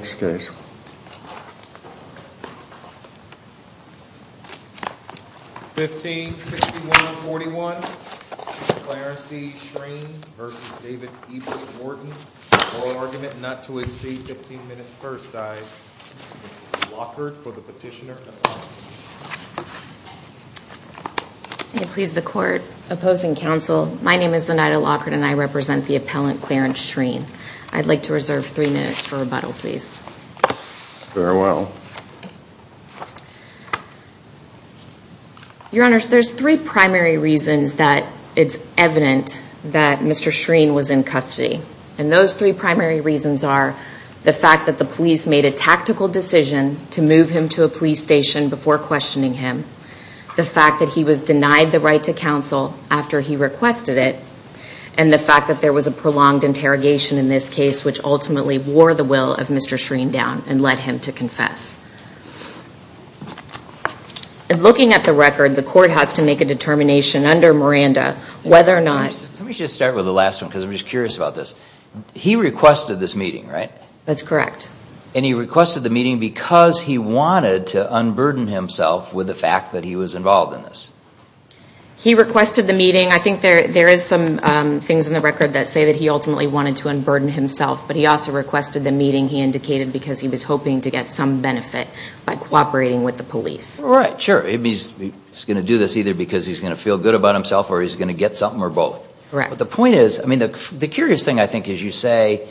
1561.41, Clarence D. Schreane v. David Ebbert Wharton, oral argument not to exceed 15 minutes per side, this is Zenaida Lockard for the petitioner and appellant. May it please the court, opposing counsel, my name is Zenaida Lockard and I represent the appellant Clarence Schreane. I'd like to reserve three minutes for rebuttal, please. Very well. Your Honor, there's three primary reasons that it's evident that Mr. Schreane was in custody. And those three primary reasons are the fact that the police made a tactical decision to move him to a police station before questioning him, the fact that he was denied the right to counsel after he requested it, and the fact that there was a prolonged interrogation in this case which ultimately wore the will of Mr. Schreane down and led him to confess. And looking at the record, the court has to make a determination under Miranda whether or not... Let me just start with the last one because I'm just curious about this. He requested this meeting, right? That's correct. And he requested the meeting because he wanted to unburden himself with the fact that he was involved in this. He requested the meeting. I think there is some things in the record that say that he ultimately wanted to unburden himself, but he also requested the meeting he indicated because he was hoping to get some benefit by cooperating with the police. Right, sure. He's going to do this either because he's going to feel good about himself or he's going to get something or both. Correct. The point is, I mean, the curious thing I think is you say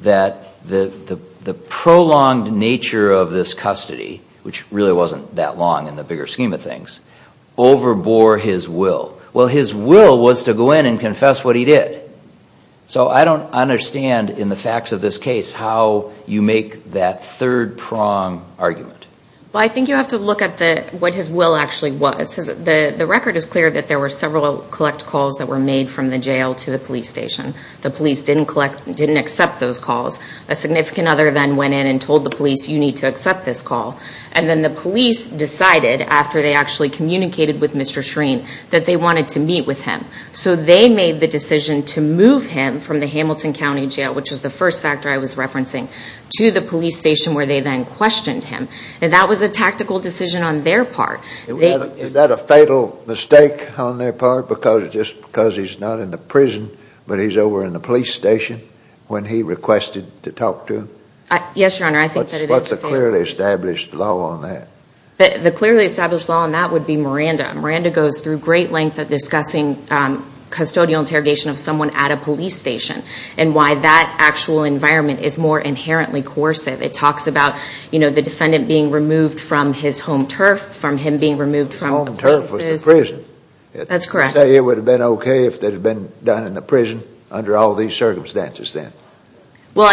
that the prolonged nature of this custody, which really wasn't that long in the bigger scheme of things, overbore his will. Well, his will was to go in and confess what he did. So I don't understand in the facts of this case how you make that third-prong argument. Well, I think you have to look at what his will actually was. The record is clear that there were several collect calls that were made from the jail to the police station. The police didn't accept those calls. A significant other then went in and told the police, you need to accept this call. And then the police decided after they actually communicated with Mr. Shreen that they wanted to meet with him. So they made the decision to move him from the Hamilton County Jail, which was the first factor I was referencing, to the police station where they then questioned him. And that was a tactical decision on their part. Is that a fatal mistake on their part because he's not in the prison, but he's over in the police station when he requested to talk to him? Yes, Your Honor, I think that it is fatal. What's the clearly established law on that? The clearly established law on that would be Miranda. Miranda goes through great length of discussing custodial interrogation of someone at a police station and why that actual environment is more inherently coercive. It talks about, you know, the defendant being removed from his home turf, from him being removed from the police's. Home turf was the prison. That's correct. Say it would have been okay if that had been done in the prison under all these circumstances then. Well,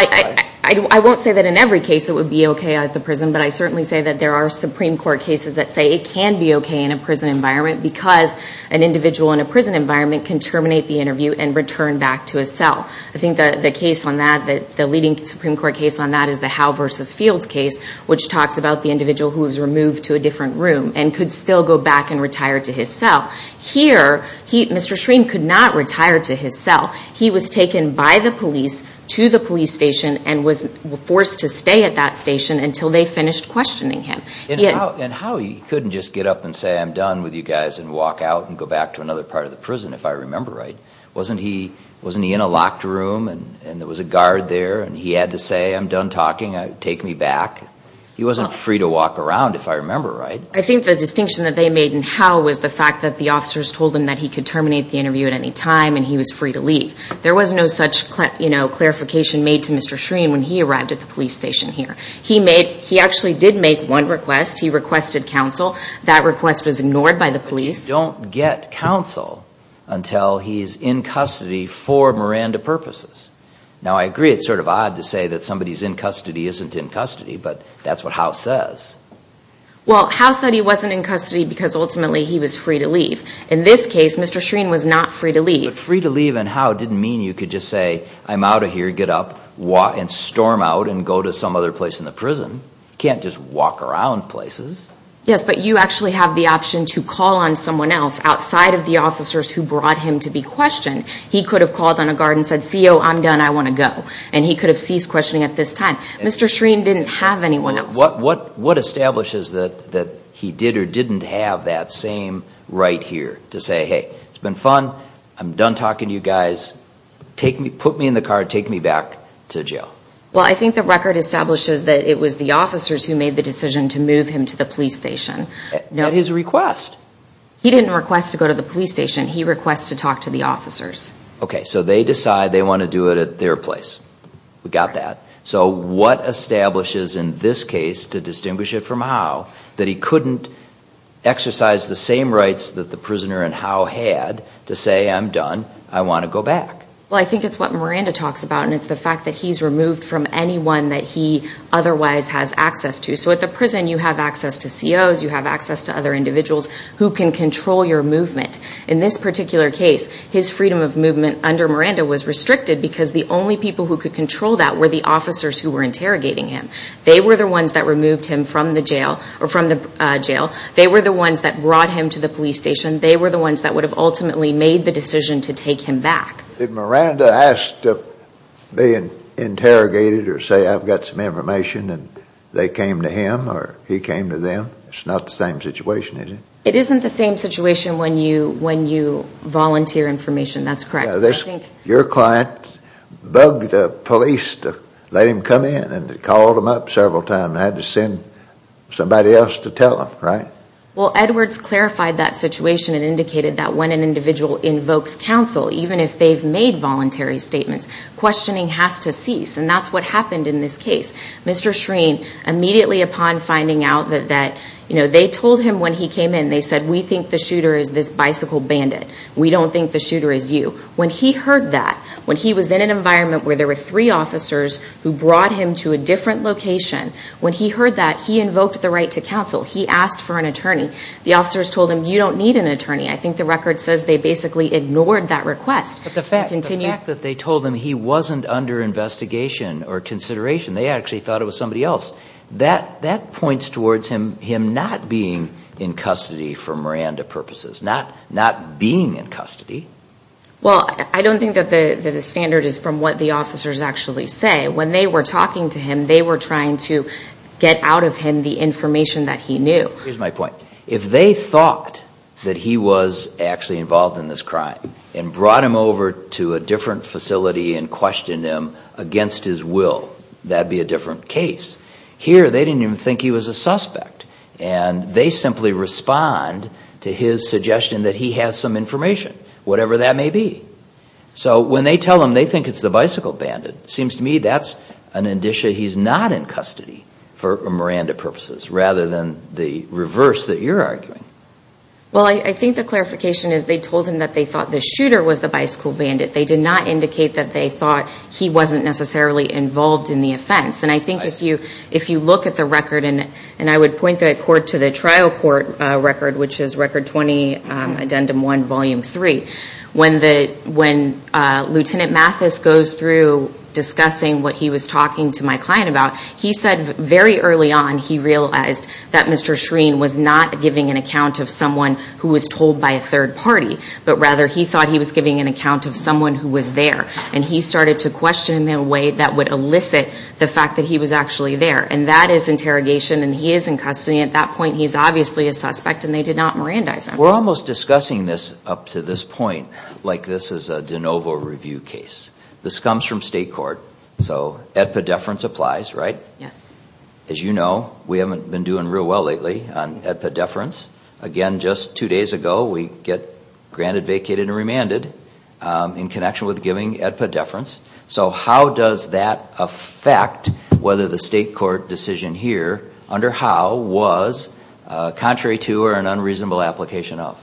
I won't say that in every case it would be okay at the prison, but I certainly say that there are Supreme Court cases that say it can be okay in a prison environment because an individual in a prison environment can terminate the interview and return back to his cell. I think the case on that, the leading Supreme Court case on that is the Howe v. Fields case, which talks about the individual who was removed to a different room and could still go back and retire to his cell. Here, Mr. Shreen could not retire to his cell. He was taken by the police to the police station and was forced to stay at that station until they finished questioning him. And how he couldn't just get up and say, I'm done with you guys, and walk out and go back to another part of the prison, if I remember right? Wasn't he in a locked room and there was a guard there and he had to say, I'm done talking, take me back? He wasn't free to walk around, if I remember right. I think the distinction that they made in Howe was the fact that the officers told him that he could terminate the interview at any time and he was free to leave. There was no such clarification made to Mr. Shreen when he arrived at the police station here. He actually did make one request. He requested counsel. That request was ignored by the police. You don't get counsel until he's in custody for Miranda purposes. Now, I agree it's sort of odd to say that somebody's in custody isn't in custody, but that's what Howe says. Well, Howe said he wasn't in custody because ultimately he was free to leave. In this case, Mr. Shreen was not free to leave. But free to leave in Howe didn't mean you could just say, I'm out of here, get up and storm out and go to some other place in the prison. You can't just walk around places. Yes, but you actually have the option to call on someone else outside of the officers who brought him to be questioned. He could have called on a guard and said, CO, I'm done, I want to go. And he could have ceased questioning at this time. Mr. Shreen didn't have anyone else. What establishes that he did or didn't have that same right here to say, hey, it's been fun, I'm done talking to you guys, put me in the car, take me back to jail? Well, I think the record establishes that it was the officers who made the decision to move him to the police station. At his request. He didn't request to go to the police station. He requested to talk to the officers. Okay, so they decide they want to do it at their place. We got that. So what establishes in this case, to distinguish it from Howe, that he couldn't exercise the same rights that the prisoner in Howe had to say, I'm done, I want to go back? Well, I think it's what Miranda talks about, and it's the fact that he's removed from anyone that he otherwise has access to. So at the prison, you have access to COs, you have access to other individuals who can control your movement. In this particular case, his freedom of movement under Miranda was restricted because the only people who could control that were the officers who were interrogating him. They were the ones that removed him from the jail. They were the ones that brought him to the police station. They were the ones that would have ultimately made the decision to take him back. Did Miranda ask to be interrogated or say I've got some information and they came to him or he came to them? It's not the same situation, is it? It isn't the same situation when you volunteer information. That's correct. Your client bugged the police to let him come in and called them up several times and had to send somebody else to tell them, right? Well, Edwards clarified that situation and indicated that when an individual invokes counsel, even if they've made voluntary statements, questioning has to cease, and that's what happened in this case. Mr. Shreen, immediately upon finding out that they told him when he came in, they said we think the shooter is this bicycle bandit. We don't think the shooter is you. When he heard that, when he was in an environment where there were three officers who brought him to a different location, when he heard that, he invoked the right to counsel. He asked for an attorney. The officers told him you don't need an attorney. I think the record says they basically ignored that request. But the fact that they told him he wasn't under investigation or consideration, they actually thought it was somebody else, that points towards him not being in custody for Miranda purposes, not being in custody. Well, I don't think that the standard is from what the officers actually say. When they were talking to him, they were trying to get out of him the information that he knew. Here's my point. If they thought that he was actually involved in this crime and brought him over to a different facility and questioned him against his will, that would be a different case. Here, they didn't even think he was a suspect, and they simply respond to his suggestion that he has some information, whatever that may be. So when they tell him they think it's the bicycle bandit, it seems to me that's an indicia he's not in custody for Miranda purposes, rather than the reverse that you're arguing. Well, I think the clarification is they told him that they thought the shooter was the bicycle bandit. They did not indicate that they thought he wasn't necessarily involved in the offense. And I think if you look at the record, and I would point the court to the trial court record, which is Record 20, Addendum 1, Volume 3. When Lieutenant Mathis goes through discussing what he was talking to my client about, he said very early on he realized that Mr. Shreen was not giving an account of someone who was told by a third party, but rather he thought he was giving an account of someone who was there. And he started to question him in a way that would elicit the fact that he was actually there. And that is interrogation, and he is in custody. At that point, he's obviously a suspect, and they did not Mirandize him. We're almost discussing this up to this point like this is a de novo review case. This comes from state court. So, AEDPA deference applies, right? Yes. As you know, we haven't been doing real well lately on AEDPA deference. Again, just two days ago, we get granted, vacated, and remanded in connection with giving AEDPA deference. So, how does that affect whether the state court decision here under Howe was contrary to or an unreasonable application of?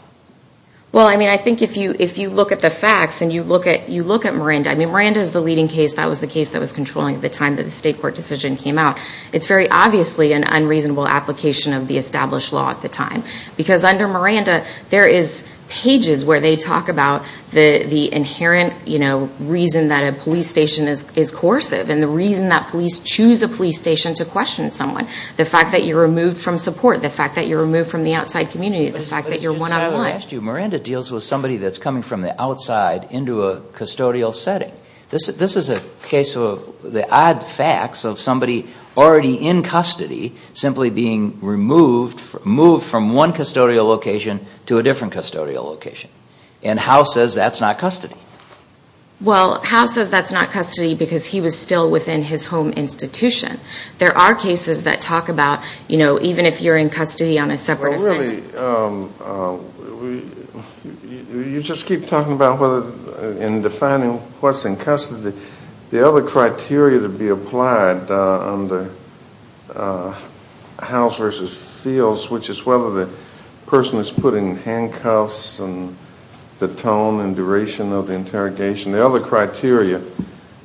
Well, I mean, I think if you look at the facts and you look at Miranda, I mean, Miranda is the leading case. That was the case that was controlling at the time that the state court decision came out. It's very obviously an unreasonable application of the established law at the time. Because under Miranda, there is pages where they talk about the inherent, you know, reason that a police station is coercive and the reason that police choose a police station to question someone, the fact that you're removed from support, the fact that you're removed from the outside community, the fact that you're one-on-one. But just as I asked you, Miranda deals with somebody that's coming from the outside into a custodial setting. This is a case of the odd facts of somebody already in custody simply being removed from one custodial location to a different custodial location. And Howe says that's not custody. Well, Howe says that's not custody because he was still within his home institution. There are cases that talk about, you know, even if you're in custody on a separate offense. You just keep talking about whether in defining what's in custody, the other criteria to be applied on the Howe versus Fields, which is whether the person is put in handcuffs and the tone and duration of the interrogation, the other criteria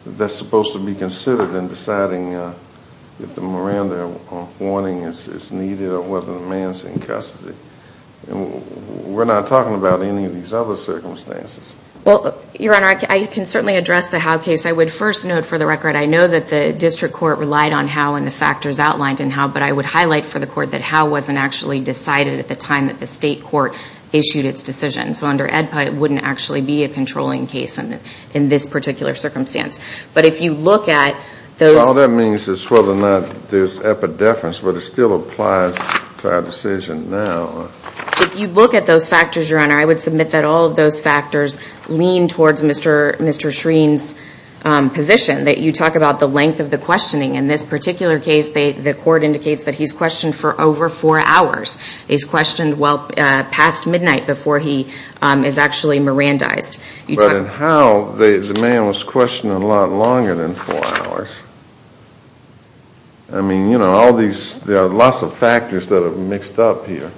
that's supposed to be considered in deciding if the Miranda warning is needed or whether the man's in custody. We're not talking about any of these other circumstances. Well, Your Honor, I can certainly address the Howe case. I would first note for the record I know that the district court relied on Howe and the factors outlined in Howe, but I would highlight for the court that Howe wasn't actually decided at the time that the state court issued its decision. So under AEDPA, it wouldn't actually be a controlling case in this particular circumstance. But if you look at those – there's epideference, but it still applies to our decision now. If you look at those factors, Your Honor, I would submit that all of those factors lean towards Mr. Shreen's position, that you talk about the length of the questioning. In this particular case, the court indicates that he's questioned for over four hours. He's questioned well past midnight before he is actually Mirandized. But in Howe, the man was questioned a lot longer than four hours. I mean, you know, all these – there are lots of factors that are mixed up here.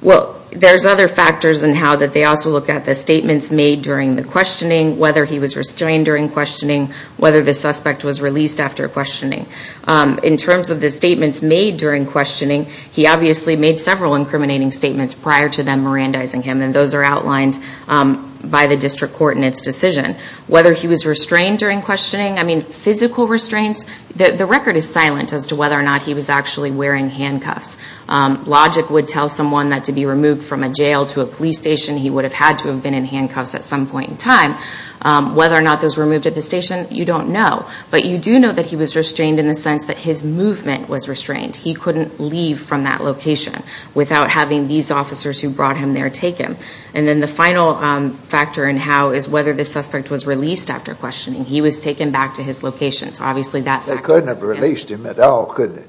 Well, there's other factors in Howe that they also look at the statements made during the questioning, whether he was restrained during questioning, whether the suspect was released after questioning. In terms of the statements made during questioning, he obviously made several incriminating statements prior to them Mirandizing him, and those are outlined by the district court in its decision. Whether he was restrained during questioning, I mean, physical restraints, the record is silent as to whether or not he was actually wearing handcuffs. Logic would tell someone that to be removed from a jail to a police station, he would have had to have been in handcuffs at some point in time. Whether or not those were removed at the station, you don't know. But you do know that he was restrained in the sense that his movement was restrained. He couldn't leave from that location without having these officers who brought him there take him. And then the final factor in Howe is whether the suspect was released after questioning. He was taken back to his location. So obviously that – They couldn't have released him at all, couldn't they?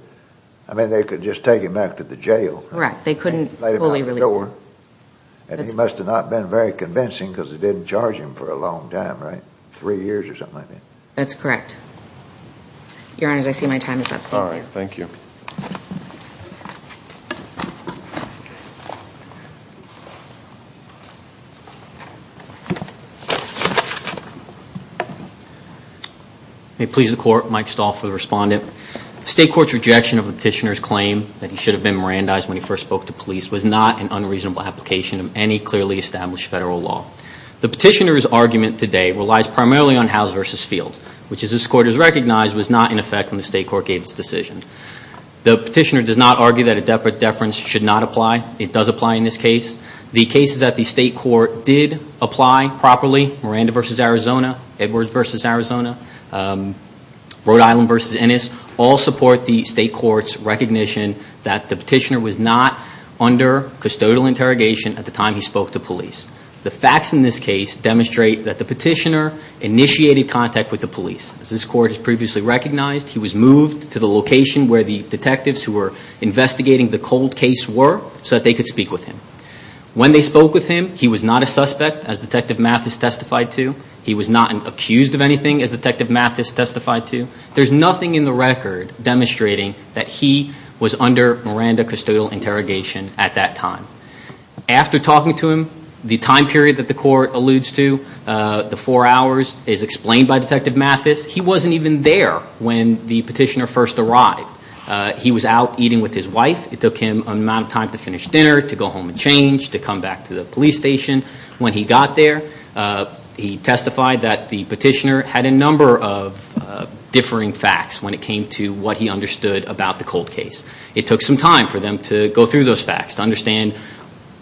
I mean, they could just take him back to the jail. Correct. They couldn't fully release him. And he must have not been very convincing because they didn't charge him for a long time, right? Three years or something like that. That's correct. Your Honors, I see my time is up. Thank you. Thank you. May it please the Court, Mike Stahl for the Respondent. The State Court's rejection of the Petitioner's claim that he should have been Mirandized when he first spoke to police was not an unreasonable application of any clearly established federal law. The Petitioner's argument today relies primarily on Howe's versus Fields, which as this Court has recognized was not in effect when the State Court gave its decision. The Petitioner does not argue that a deference should not apply. It does apply in this case. The cases that the State Court did apply properly, Miranda versus Arizona, Edwards versus Arizona, Rhode Island versus Ennis, all support the State Court's recognition that the Petitioner was not under custodial interrogation at the time he spoke to police. The facts in this case demonstrate that the Petitioner initiated contact with the police. As this Court has previously recognized, he was moved to the location where the detectives who were investigating the cold case were so that they could speak with him. When they spoke with him, he was not a suspect as Detective Mathis testified to. He was not accused of anything as Detective Mathis testified to. There's nothing in the record demonstrating that he was under Miranda custodial interrogation at that time. After talking to him, the time period that the Court alludes to, the four hours, is explained by Detective Mathis. He wasn't even there when the Petitioner first arrived. He was out eating with his wife. It took him an amount of time to finish dinner, to go home and change, to come back to the police station. When he got there, he testified that the Petitioner had a number of differing facts when it came to what he understood about the cold case. It took some time for them to go through those facts, to understand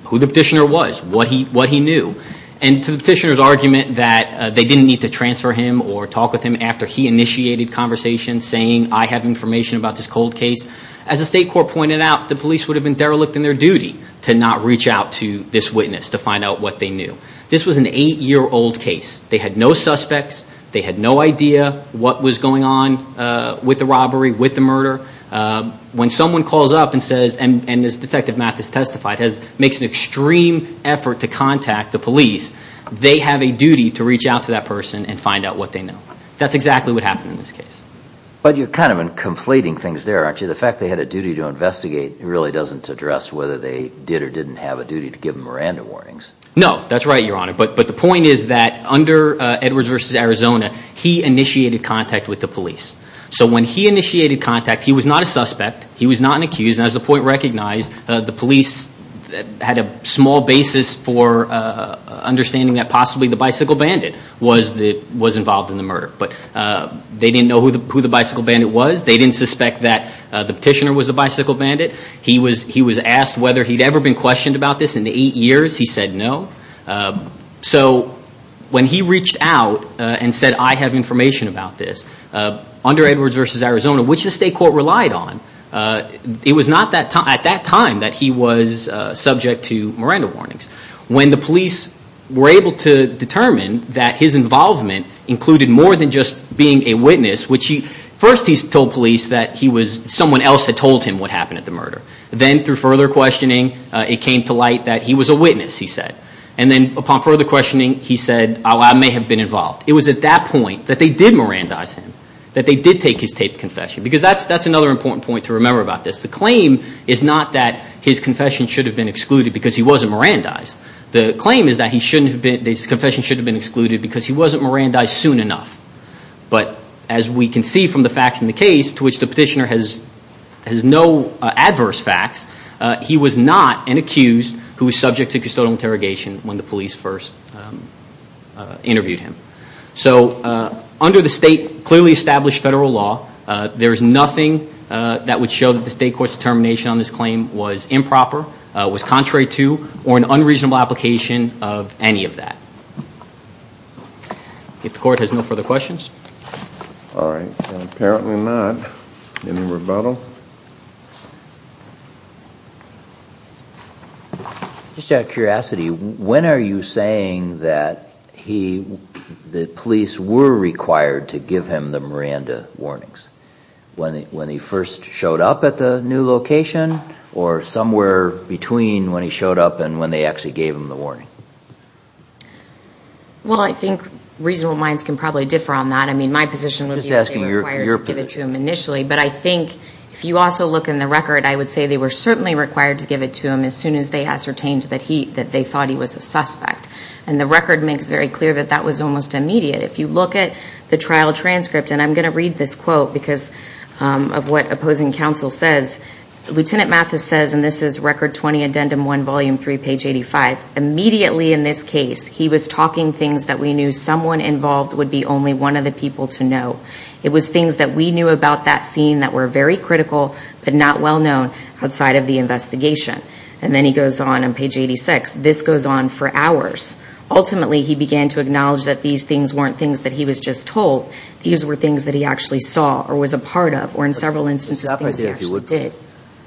who the Petitioner was, what he knew. And to the Petitioner's argument that they didn't need to transfer him or talk with him after he initiated conversation saying, I have information about this cold case, as the State Court pointed out, the police would have been derelict in their duty to not reach out to this witness to find out what they knew. This was an eight-year-old case. They had no suspects. They had no idea what was going on with the robbery, with the murder. When someone calls up and says, and as Detective Mathis testified, makes an extreme effort to contact the police, they have a duty to reach out to that person and find out what they know. That's exactly what happened in this case. But you're kind of conflating things there, aren't you? The fact they had a duty to investigate really doesn't address whether they did or didn't have a duty to give Miranda warnings. No, that's right, Your Honor. But the point is that under Edwards v. Arizona, he initiated contact with the police. So when he initiated contact, he was not a suspect. He was not an accused. And as the point recognized, the police had a small basis for understanding that possibly the Bicycle Bandit was involved in the murder. But they didn't know who the Bicycle Bandit was. They didn't suspect that the petitioner was the Bicycle Bandit. He was asked whether he'd ever been questioned about this in the eight years. He said no. So when he reached out and said, I have information about this, under Edwards v. Arizona, which the state court relied on, it was not at that time that he was subject to Miranda warnings. When the police were able to determine that his involvement included more than just being a witness, first he told police that someone else had told him what happened at the murder. Then through further questioning, it came to light that he was a witness, he said. And then upon further questioning, he said, I may have been involved. It was at that point that they did Mirandize him, that they did take his taped confession. Because that's another important point to remember about this. The claim is not that his confession should have been excluded because he wasn't Mirandized. The claim is that his confession should have been excluded because he wasn't Mirandized soon enough. But as we can see from the facts in the case, to which the petitioner has no adverse facts, he was not an accused who was subject to custodial interrogation when the police first interviewed him. So under the state clearly established federal law, there is nothing that would show that the state court's determination on this claim was improper, was contrary to, or an unreasonable application of any of that. If the court has no further questions? All right. Apparently not. Any rebuttal? Just out of curiosity, when are you saying that the police were required to give him the Miranda warnings? When he first showed up at the new location, or somewhere between when he showed up and when they actually gave him the warning? Well, I think reasonable minds can probably differ on that. I mean, my position would be that they were required to give it to him initially. But I think if you also look in the record, I would say they were certainly required to give it to him as soon as they ascertained that they thought he was a suspect. And the record makes very clear that that was almost immediate. If you look at the trial transcript, and I'm going to read this quote because of what opposing counsel says, Lieutenant Mathis says, and this is Record 20, Addendum 1, Volume 3, Page 85. Immediately in this case, he was talking things that we knew someone involved would be only one of the people to know. It was things that we knew about that scene that were very critical, but not well known outside of the investigation. And then he goes on, on Page 86, this goes on for hours. Ultimately, he began to acknowledge that these things weren't things that he was just told. These were things that he actually saw, or was a part of, or in several instances things he actually did.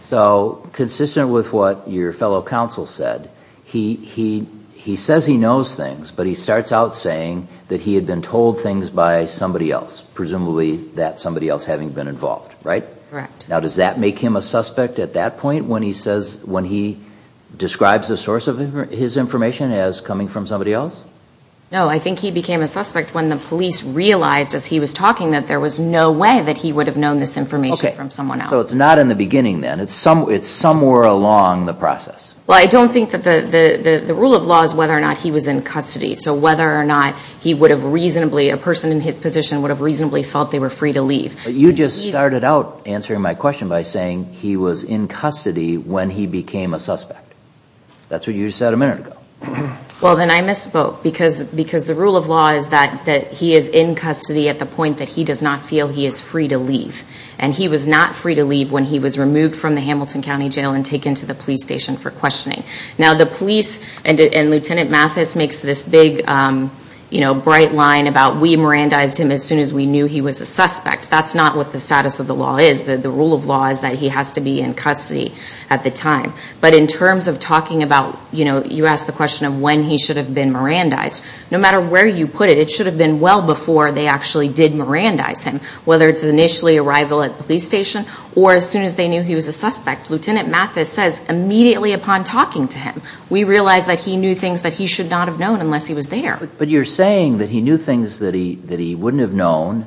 So consistent with what your fellow counsel said, he says he knows things, but he starts out saying that he had been told things by somebody else, presumably that somebody else having been involved, right? Correct. Now, does that make him a suspect at that point when he says, when he describes the source of his information as coming from somebody else? No, I think he became a suspect when the police realized, as he was talking, that there was no way that he would have known this information from someone else. So it's not in the beginning then. It's somewhere along the process. Well, I don't think that the rule of law is whether or not he was in custody. So whether or not he would have reasonably, a person in his position would have reasonably felt they were free to leave. But you just started out answering my question by saying he was in custody when he became a suspect. That's what you said a minute ago. Well, then I misspoke. Because the rule of law is that he is in custody at the point that he does not feel he is free to leave. And he was not free to leave when he was removed from the Hamilton County Jail and taken to the police station for questioning. Now, the police and Lieutenant Mathis makes this big, you know, bright line about, we Mirandized him as soon as we knew he was a suspect. That's not what the status of the law is. The rule of law is that he has to be in custody at the time. But in terms of talking about, you know, you asked the question of when he should have been Mirandized. No matter where you put it, it should have been well before they actually did Mirandize him. Whether it's initially arrival at the police station or as soon as they knew he was a suspect. Lieutenant Mathis says immediately upon talking to him, we realized that he knew things that he should not have known unless he was there. But you're saying that he knew things that he wouldn't have known.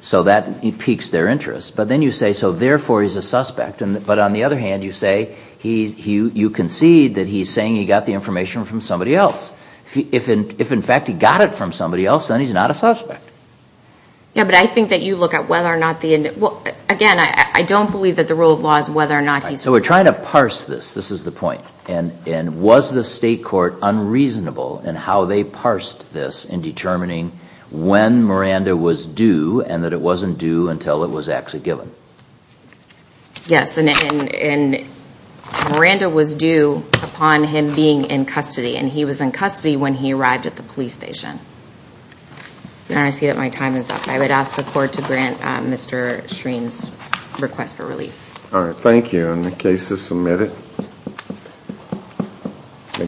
So that piques their interest. But then you say, so therefore he's a suspect. But on the other hand, you say, you concede that he's saying he got the information from somebody else. If in fact he got it from somebody else, then he's not a suspect. Yeah, but I think that you look at whether or not the, again, I don't believe that the rule of law is whether or not he's a suspect. So we're trying to parse this. This is the point. And was the state court unreasonable in how they parsed this in determining when Miranda was due and that it wasn't due until it was actually given? Yes. And Miranda was due upon him being in custody. And he was in custody when he arrived at the police station. I see that my time is up. I would ask the court to grant Mr. Shreen's request for relief. All right. Thank you. And the case is submitted.